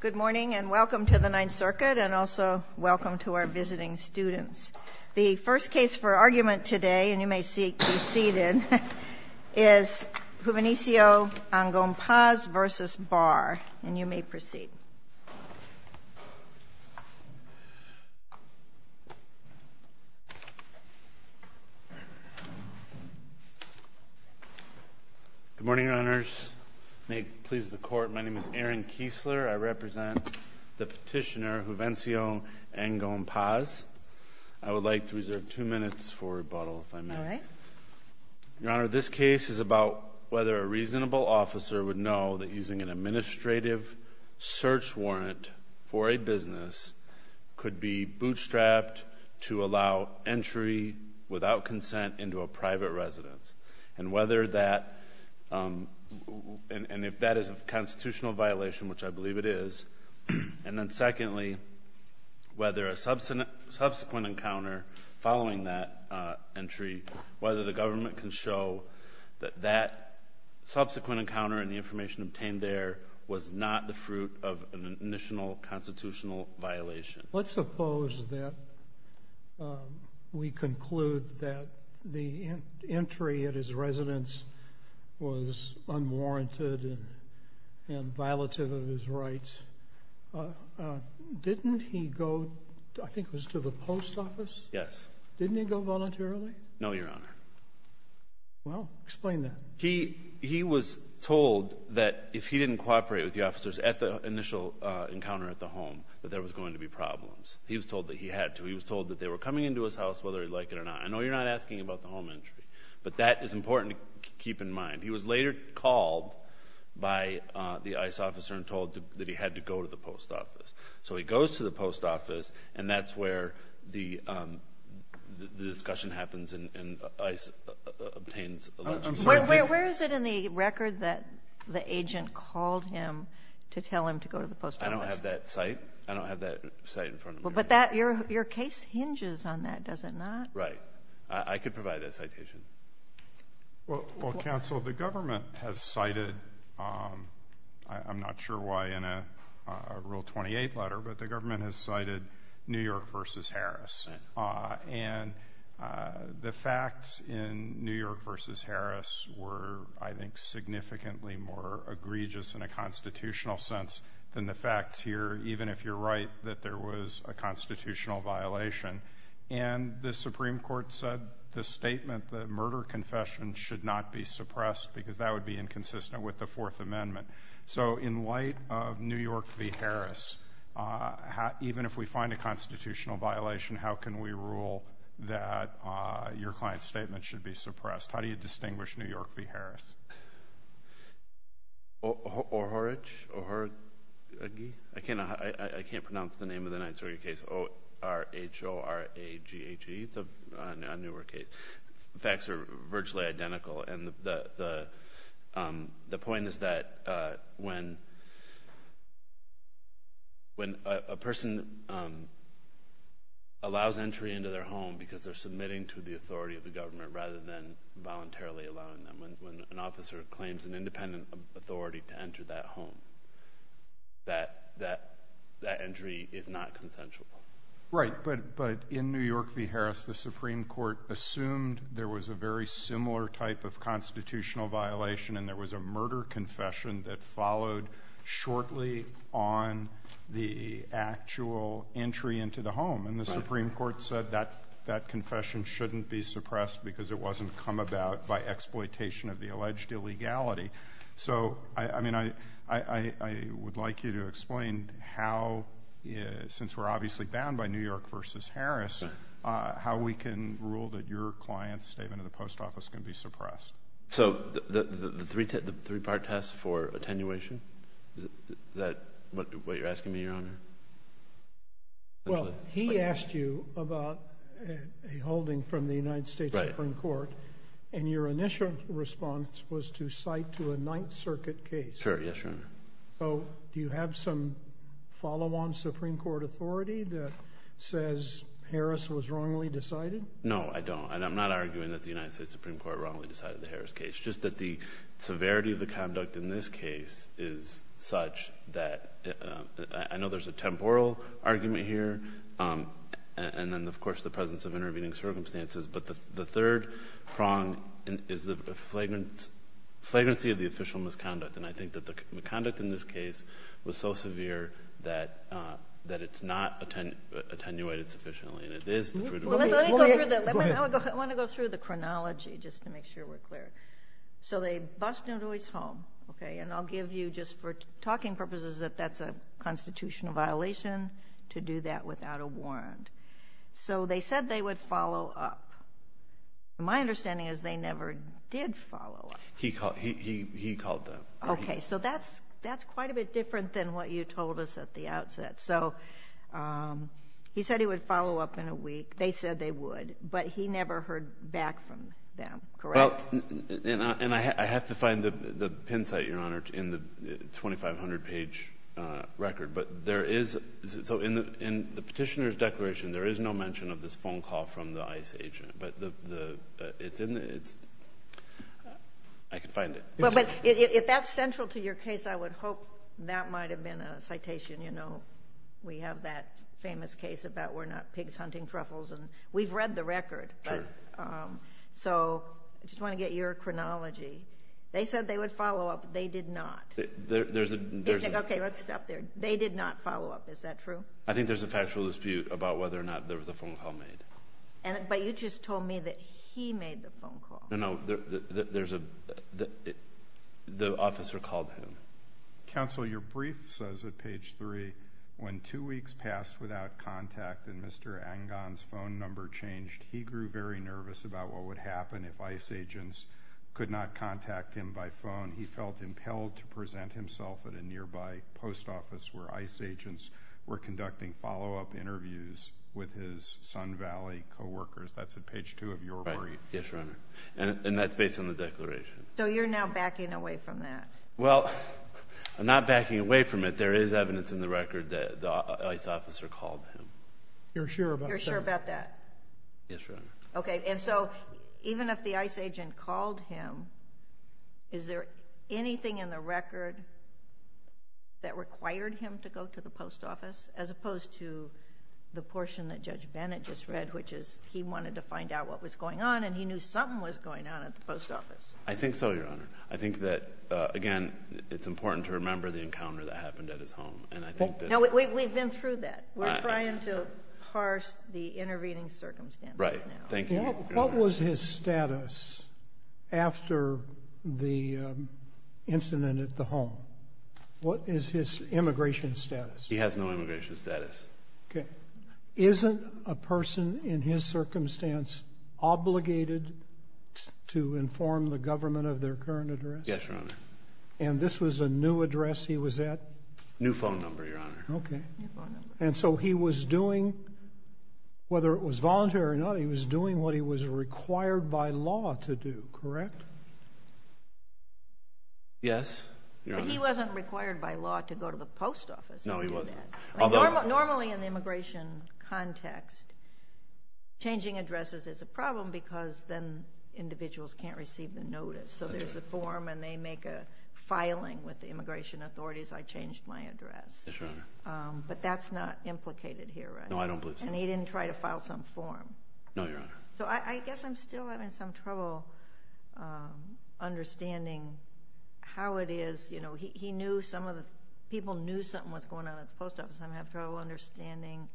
Good morning, and welcome to the Ninth Circuit, and also welcome to our visiting students. The first case for argument today, and you may be seated, is Juvencio Angon-Paz v. Barr. And you may proceed. Good morning, Your Honors. May it please the court, my name is Aaron Kiesler. I represent the petitioner, Juvencio Angon-Paz. I would like to reserve two minutes for rebuttal, if I may. All right. Your Honor, this case is about whether a reasonable officer would know that using an administrative search warrant for a business could be bootstrapped to allow entry without consent into a private residence. And whether that, and if that is a constitutional violation, which I believe it is. And then secondly, whether a subsequent encounter following that entry, whether the government can show that that subsequent encounter and the information obtained there was not the fruit of an initial constitutional violation. Let's suppose that we conclude that the entry at his residence was unwarranted and violative of his rights. Didn't he go, I think it was to the post office? Yes. Didn't he go voluntarily? No, Your Honor. Well, explain that. He was told that if he didn't cooperate with the officers at the initial encounter at the home, that there was going to be problems. He was told that he had to. He was told that they were coming into his house, whether he liked it or not. I know you're not asking about the home entry, but that is important to keep in mind. He was later called by the ICE officer and told that he had to go to the post office. So he goes to the post office, and that's where the discussion happens and ICE obtains allegiance. I'm sorry, where is it in the record that the agent called him to tell him to go to the post office? I don't have that site. I don't have that site in front of me. But your case hinges on that, does it not? Right. I could provide that citation. Well, counsel, the government has cited, I'm not sure why in a rule 28 letter, but the government has cited New York versus Harris. And the facts in New York versus Harris were, I think, even if you're right, that there was a constitutional violation. And the Supreme Court said the statement, the murder confession, should not be suppressed because that would be inconsistent with the Fourth Amendment. So in light of New York v. Harris, even if we find a constitutional violation, how can we rule that your client's statement should be suppressed? How do you distinguish New York v. Harris? Orhorage? Orhorage? I can't pronounce the name of the Nights Warrior case, O-R-H-O-R-A-G-H-E, it's a newer case. Facts are virtually identical, and the point is that when a person allows entry into their home because they're submitting to the authority of the government rather than voluntarily allowing them, when an officer claims an independent authority to enter that home, that entry is not consensual. Right. But in New York v. Harris, the Supreme Court assumed there was a very similar type of constitutional violation and there was a murder confession that followed shortly on the actual entry into the home. And the Supreme Court said that that confession shouldn't be suppressed because it wasn't come about by exploitation of the alleged illegality. So I mean, I would like you to explain how, since we're obviously bound by New York v. Harris, how we can rule that your client's statement in the post office can be suppressed. So the three-part test for attenuation, is that what you're asking me, Your Honor? Well, he asked you about a holding from the United States Supreme Court, and your initial response was to cite to a Ninth Circuit case. Sure, yes, Your Honor. So do you have some follow-on Supreme Court authority that says Harris was wrongly decided? No, I don't. And I'm not arguing that the United States Supreme Court wrongly decided the Harris case. It's just that the severity of the conduct in this case is such that, I know there's a temporal argument here, and then, of course, the presence of intervening circumstances. But the third prong is the flagrancy of the official misconduct. And I think that the conduct in this case was so severe that it's not attenuated sufficiently. And it is the prudent misconduct. Let me go through the chronology, just to make sure we're clear. So they bust Newtoy's home, and I'll give you, just for talking purposes, that that's a constitutional violation to do that without a warrant. So they said they would follow up. My understanding is they never did follow up. He called them. Okay, so that's quite a bit different than what you told us at the outset. So he said he would follow up in a week. They said they would. But he never heard back from them, correct? Well, and I have to find the pin site, Your Honor, in the 2,500-page record. But there is — so in the Petitioner's declaration, there is no mention of this phone call from the ICE agent. But the — it's in the — it's — I can find it. Well, but if that's central to your case, I would hope that might have been a citation. You know, we have that famous case about we're not pigs hunting truffles, and we've read the record. True. But — so I just want to get your chronology. They said they would follow up. They did not. There's a — Okay, let's stop there. They did not follow up. Is that true? I think there's a factual dispute about whether or not there was a phone call made. But you just told me that he made the phone call. No, no. There's a — the officer called him. Counsel, your brief says at page three, when two weeks passed without contact and Mr. Angan's phone number changed, he grew very nervous about what would happen if ICE agents could not contact him by phone. He felt impelled to present himself at a nearby post office where ICE agents were conducting follow-up interviews with his Sun Valley co-workers. That's at page two of your brief. Right. Yes, Your Honor. And that's based on the declaration. So you're now backing away from that. Well, I'm not backing away from it. There is evidence in the record that the ICE officer called him. You're sure about that? You're sure about that? Yes, Your Honor. Okay. And so, even if the ICE agent called him, is there anything in the record that required him to go to the post office, as opposed to the portion that Judge Bennett just read, which is he wanted to find out what was going on and he knew something was going on at the post office? I think so, Your Honor. I think that, again, it's important to remember the encounter that happened at his home. And I think that... No, we've been through that. We're trying to parse the intervening circumstances now. Right. Thank you, Your Honor. What was his status after the incident at the home? What is his immigration status? He has no immigration status. Okay. Wasn't a person, in his circumstance, obligated to inform the government of their current address? Yes, Your Honor. And this was a new address he was at? New phone number, Your Honor. Okay. New phone number. And so, he was doing, whether it was voluntary or not, he was doing what he was required by law to do, correct? Yes, Your Honor. But he wasn't required by law to go to the post office and do that. No, he wasn't. Normally, in the immigration context, changing addresses is a problem because then individuals can't receive the notice. That's right. So, there's a form and they make a filing with the immigration authorities, I changed my address. Yes, Your Honor. But that's not implicated here, right? No, I don't believe so. And he didn't try to file some form? No, Your Honor. So, I guess I'm still having some trouble understanding how it is. You know, he knew some of the, people knew something was going on at the post office. I'm having trouble understanding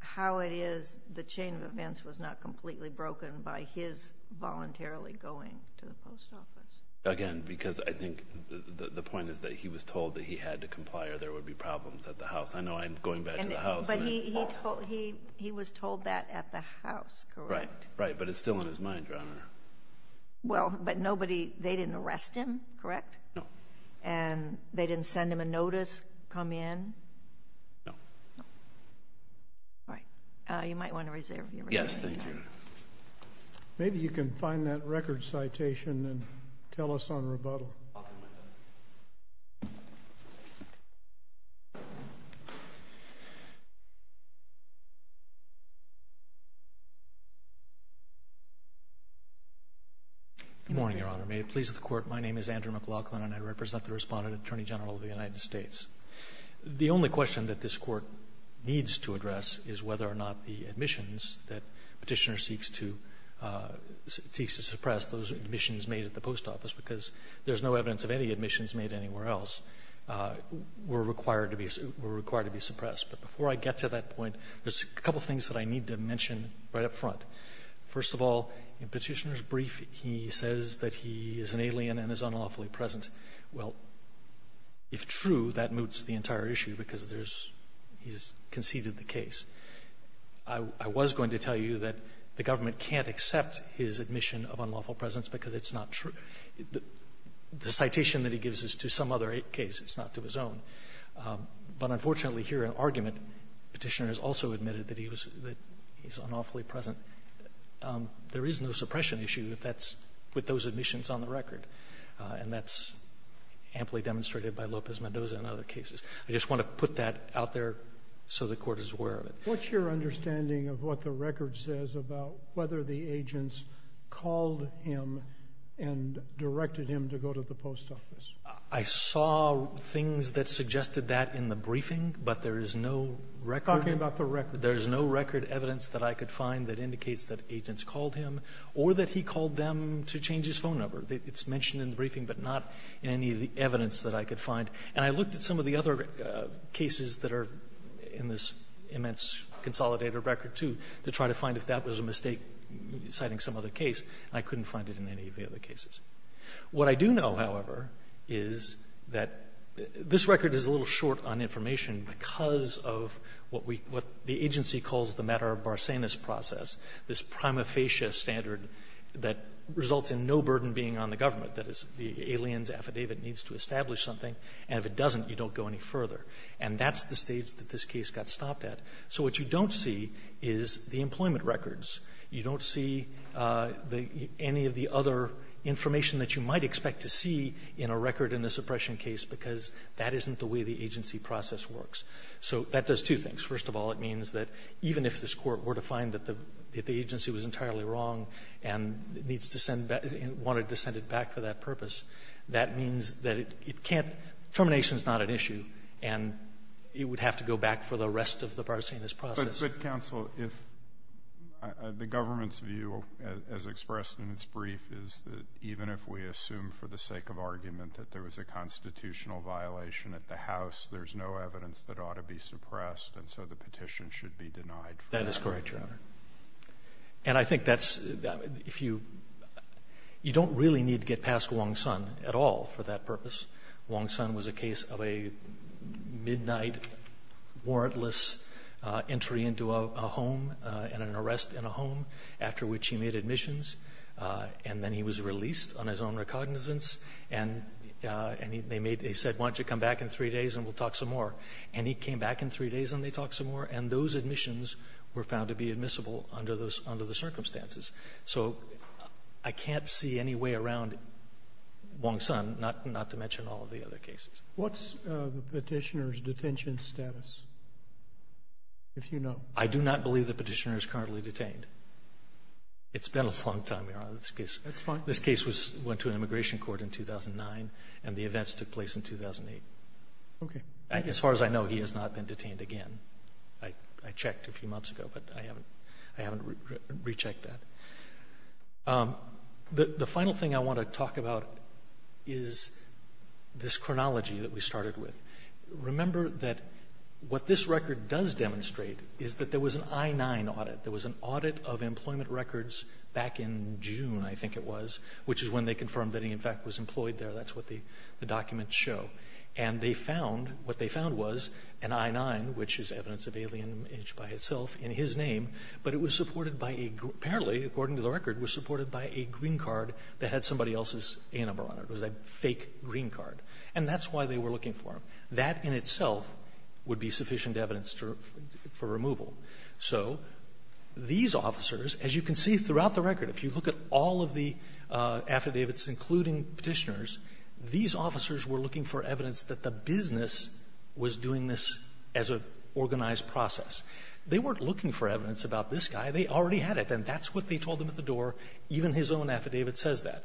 how it is the chain of events was not completely broken by his voluntarily going to the post office. Again, because I think the point is that he was told that he had to comply or there would be problems at the house. I know I'm going back to the house. He was told that at the house, correct? Right, right. But it's still in his mind, Your Honor. Well, but nobody, they didn't arrest him, correct? No. And they didn't send him a notice, come in? No. No. All right. You might want to reserve your rebuttal. Yes. Thank you. Maybe you can find that record citation and tell us on rebuttal. Good morning, Your Honor. May it please the Court. My name is Andrew McLaughlin, and I represent the Respondent Attorney General of the United States. The only question that this Court needs to address is whether or not the admissions that Petitioner seeks to, seeks to suppress, those admissions made at the post office, because there's no evidence of any admissions made anywhere else, were required to be, were required to be suppressed. But before I get to that point, there's a couple things that I need to mention right up front. First of all, in Petitioner's brief, he says that he is an alien and is unlawfully present. Well, if true, that moots the entire issue, because there's, he's conceded the case. I was going to tell you that the government can't accept his admission of unlawful presence because it's not true. The citation that he gives is to some other case, it's not to his own. But unfortunately, here in argument, Petitioner has also admitted that he was, that he's unlawfully present. There is no suppression issue if that's, with those admissions on the record. And that's amply demonstrated by Lopez-Mendoza and other cases. I just want to put that out there so the Court is aware of it. What's your understanding of what the record says about whether the agents called him and directed him to go to the post office? I saw things that suggested that in the briefing, but there is no record. You're talking about the record. There is no record evidence that I could find that indicates that agents called him or that he called them to change his phone number. It's mentioned in the briefing, but not in any of the evidence that I could find. And I looked at some of the other cases that are in this immense consolidated record, too, to try to find if that was a mistake citing some other case. I couldn't find it in any of the other cases. What I do know, however, is that this record is a little short on information because of what we – what the agency calls the matter of Barsanis process, this prima facie standard that results in no burden being on the government. That is, the alien's affidavit needs to establish something, and if it doesn't, you don't go any further. And that's the stage that this case got stopped at. So what you don't see is the employment records. You don't see the – any of the other information that you might expect to see in a record in a suppression case because that isn't the way the agency process works. So that does two things. First of all, it means that even if this Court were to find that the agency was entirely wrong and needs to send – wanted to send it back for that purpose, that means that it can't – termination is not an issue, and it would have to go back for the rest of the Barsanis process. But, counsel, if the government's view, as expressed in its brief, is that even if we assume for the sake of argument that there was a constitutional violation at the House, there's no evidence that ought to be suppressed, and so the petition should be denied. That is correct, Your Honor. And I think that's – if you – you don't really need to get past Wong Son at all for that purpose. Wong Son was a case of a midnight warrantless entry into a home and an arrest in a home after which he made admissions, and then he was released on his own recognizance, and they made – they said, why don't you come back in three days and we'll talk some more. And he came back in three days and they talked some more, and those admissions were found to be admissible under those – under the circumstances. So I can't see any way around Wong Son, not to mention all of the other cases. What's the petitioner's detention status, if you know? I do not believe the petitioner is currently detained. It's been a long time, Your Honor, this case. That's fine. This case was – went to an immigration court in 2009, and the events took place in 2008. Okay. As far as I know, he has not been detained again. I checked a few months ago, but I haven't – I haven't rechecked that. The final thing I want to talk about is this chronology that we started with. Remember that what this record does demonstrate is that there was an I-9 audit. There was an audit of employment records back in June, I think it was, which is when they confirmed that he, in fact, was employed there. That's what the documents show. And they found – what they found was an I-9, which is evidence of alien image by itself, in his name, but it was supported by a – apparently, according to the record, was supported by a green card that had somebody else's A number on it. It was a fake green card, and that's why they were looking for him. That in itself would be sufficient evidence to – for removal. So these officers, as you can see throughout the record, if you look at all of the affidavits, including Petitioner's, these officers were looking for evidence that the business was doing this as an organized process. They weren't looking for evidence about this guy. They already had it, and that's what they told him at the door. Even his own affidavit says that.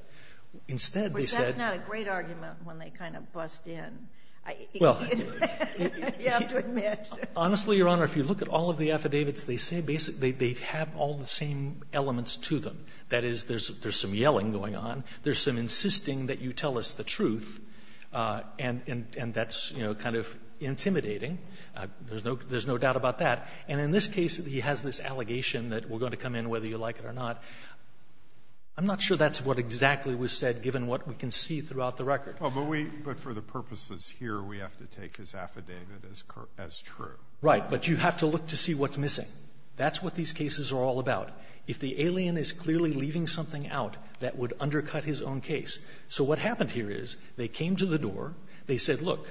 Instead, they said – But that's not a great argument when they kind of bust in. Well – You have to admit. Honestly, Your Honor, if you look at all of the affidavits, they say basically they have all the same elements to them. That is, there's some yelling going on. There's some insisting that you tell us the truth, and that's, you know, kind of intimidating. There's no doubt about that. And in this case, he has this allegation that we're going to come in whether you like it or not. I'm not sure that's what exactly was said, given what we can see throughout the record. Well, but we – but for the purposes here, we have to take his affidavit as true. Right. But you have to look to see what's missing. That's what these cases are all about. If the alien is clearly leaving something out, that would undercut his own case. So what happened here is they came to the door. They said, look,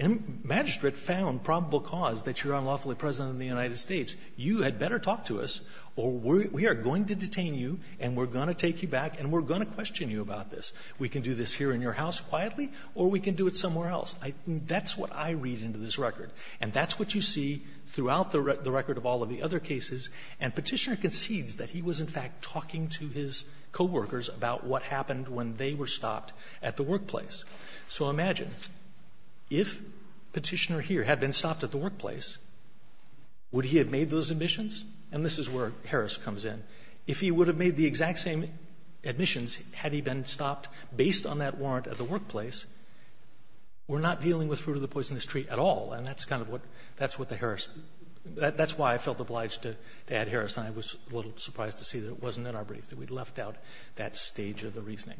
magistrate found probable cause that you're unlawfully present in the United States. You had better talk to us, or we are going to detain you, and we're going to take you back, and we're going to question you about this. We can do this here in your house quietly, or we can do it somewhere else. That's what I read into this record. And that's what you see throughout the record of all of the other cases. And Petitioner concedes that he was, in fact, talking to his coworkers about what happened when they were stopped at the workplace. So imagine, if Petitioner here had been stopped at the workplace, would he have made those admissions? And this is where Harris comes in. If he would have made the exact same admissions had he been stopped based on that warrant at the workplace, we're not dealing with fruit of the poisonous tree at all. And that's kind of what – that's what the Harris – that's why I felt obliged to add Harris. And I was a little surprised to see that it wasn't in our brief, that we'd left out that stage of the reasoning.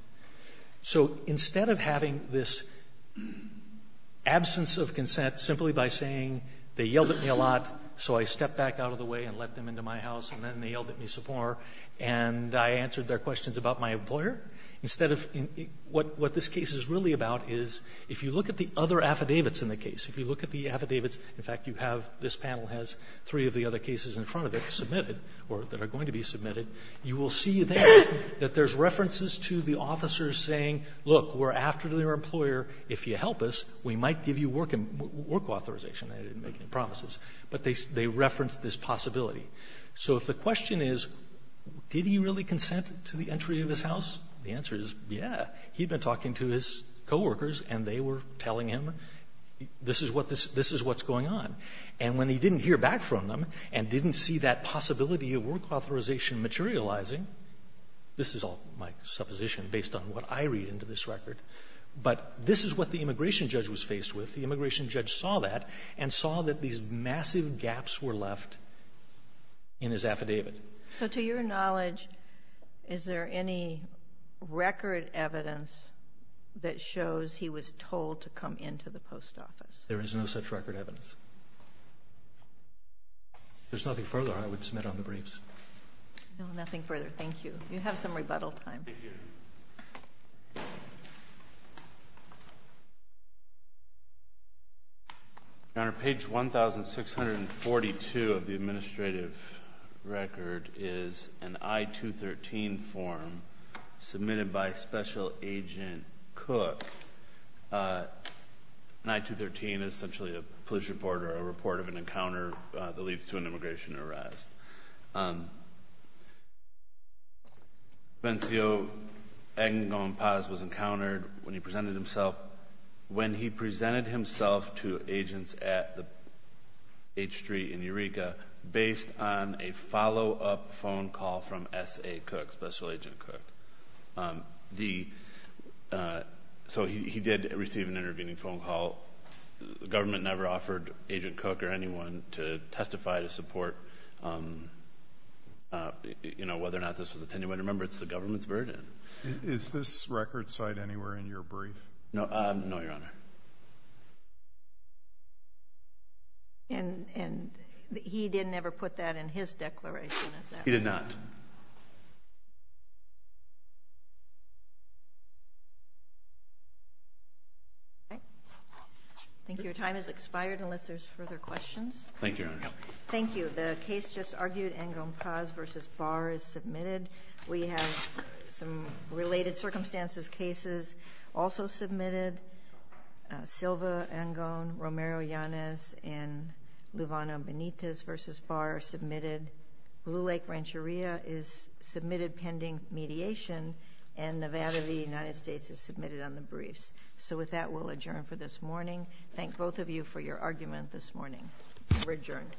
So instead of having this absence of consent simply by saying they yelled at me a lot, so I stepped back out of the way and let them into my house, and then they yelled at me some more, and I answered their questions about my employer, instead of – what this case is really about is if you look at the other affidavits in the case, if you have – this panel has three of the other cases in front of it submitted, or that are going to be submitted, you will see there that there's references to the officers saying, look, we're after your employer. If you help us, we might give you work authorization. I didn't make any promises. But they referenced this possibility. So if the question is, did he really consent to the entry of his house, the answer is, yes. He had been talking to his coworkers, and they were telling him, this is what – this is what's going on. And when he didn't hear back from them and didn't see that possibility of work authorization materializing – this is all my supposition based on what I read into this record – but this is what the immigration judge was faced with. The immigration judge saw that and saw that these massive gaps were left in his affidavit. So to your knowledge, is there any record evidence that shows he was told to come into the post office? There is no such record evidence. If there's nothing further, I would submit on the briefs. No, nothing further. Thank you. You have some rebuttal time. Thank you. Your Honor, page 1,642 of the administrative record is an I-213 form submitted by Special Agent Cook. An I-213 is essentially a police report or a report of an encounter that leads to an immigration arrest. Bencio Aguinaldo Paz was encountered when he presented himself – when he presented himself to agents at the H-Street in Eureka based on a follow-up phone call from S.A. Cook, Special Agent Cook. The – so he did receive an intervening phone call. The government never offered Agent Cook or anyone to testify to support, you know, whether or not this was a 10-year-old. Remember, it's the government's burden. Is this record cited anywhere in your brief? No, Your Honor. And he didn't ever put that in his declaration, is that right? He did not. I think your time has expired unless there's further questions. Thank you, Your Honor. Thank you. The case just argued, Angon Paz v. Barr, is submitted. We have some related circumstances cases also submitted. Silva, Angon, Romero Yanez, and Luvano Benitez v. Barr are submitted. Blue Lake Rancheria is submitted pending mediation, and Nevada v. United States is submitted on the briefs. So with that, we'll adjourn for this morning. Thank both of you for your argument this morning. We're adjourned.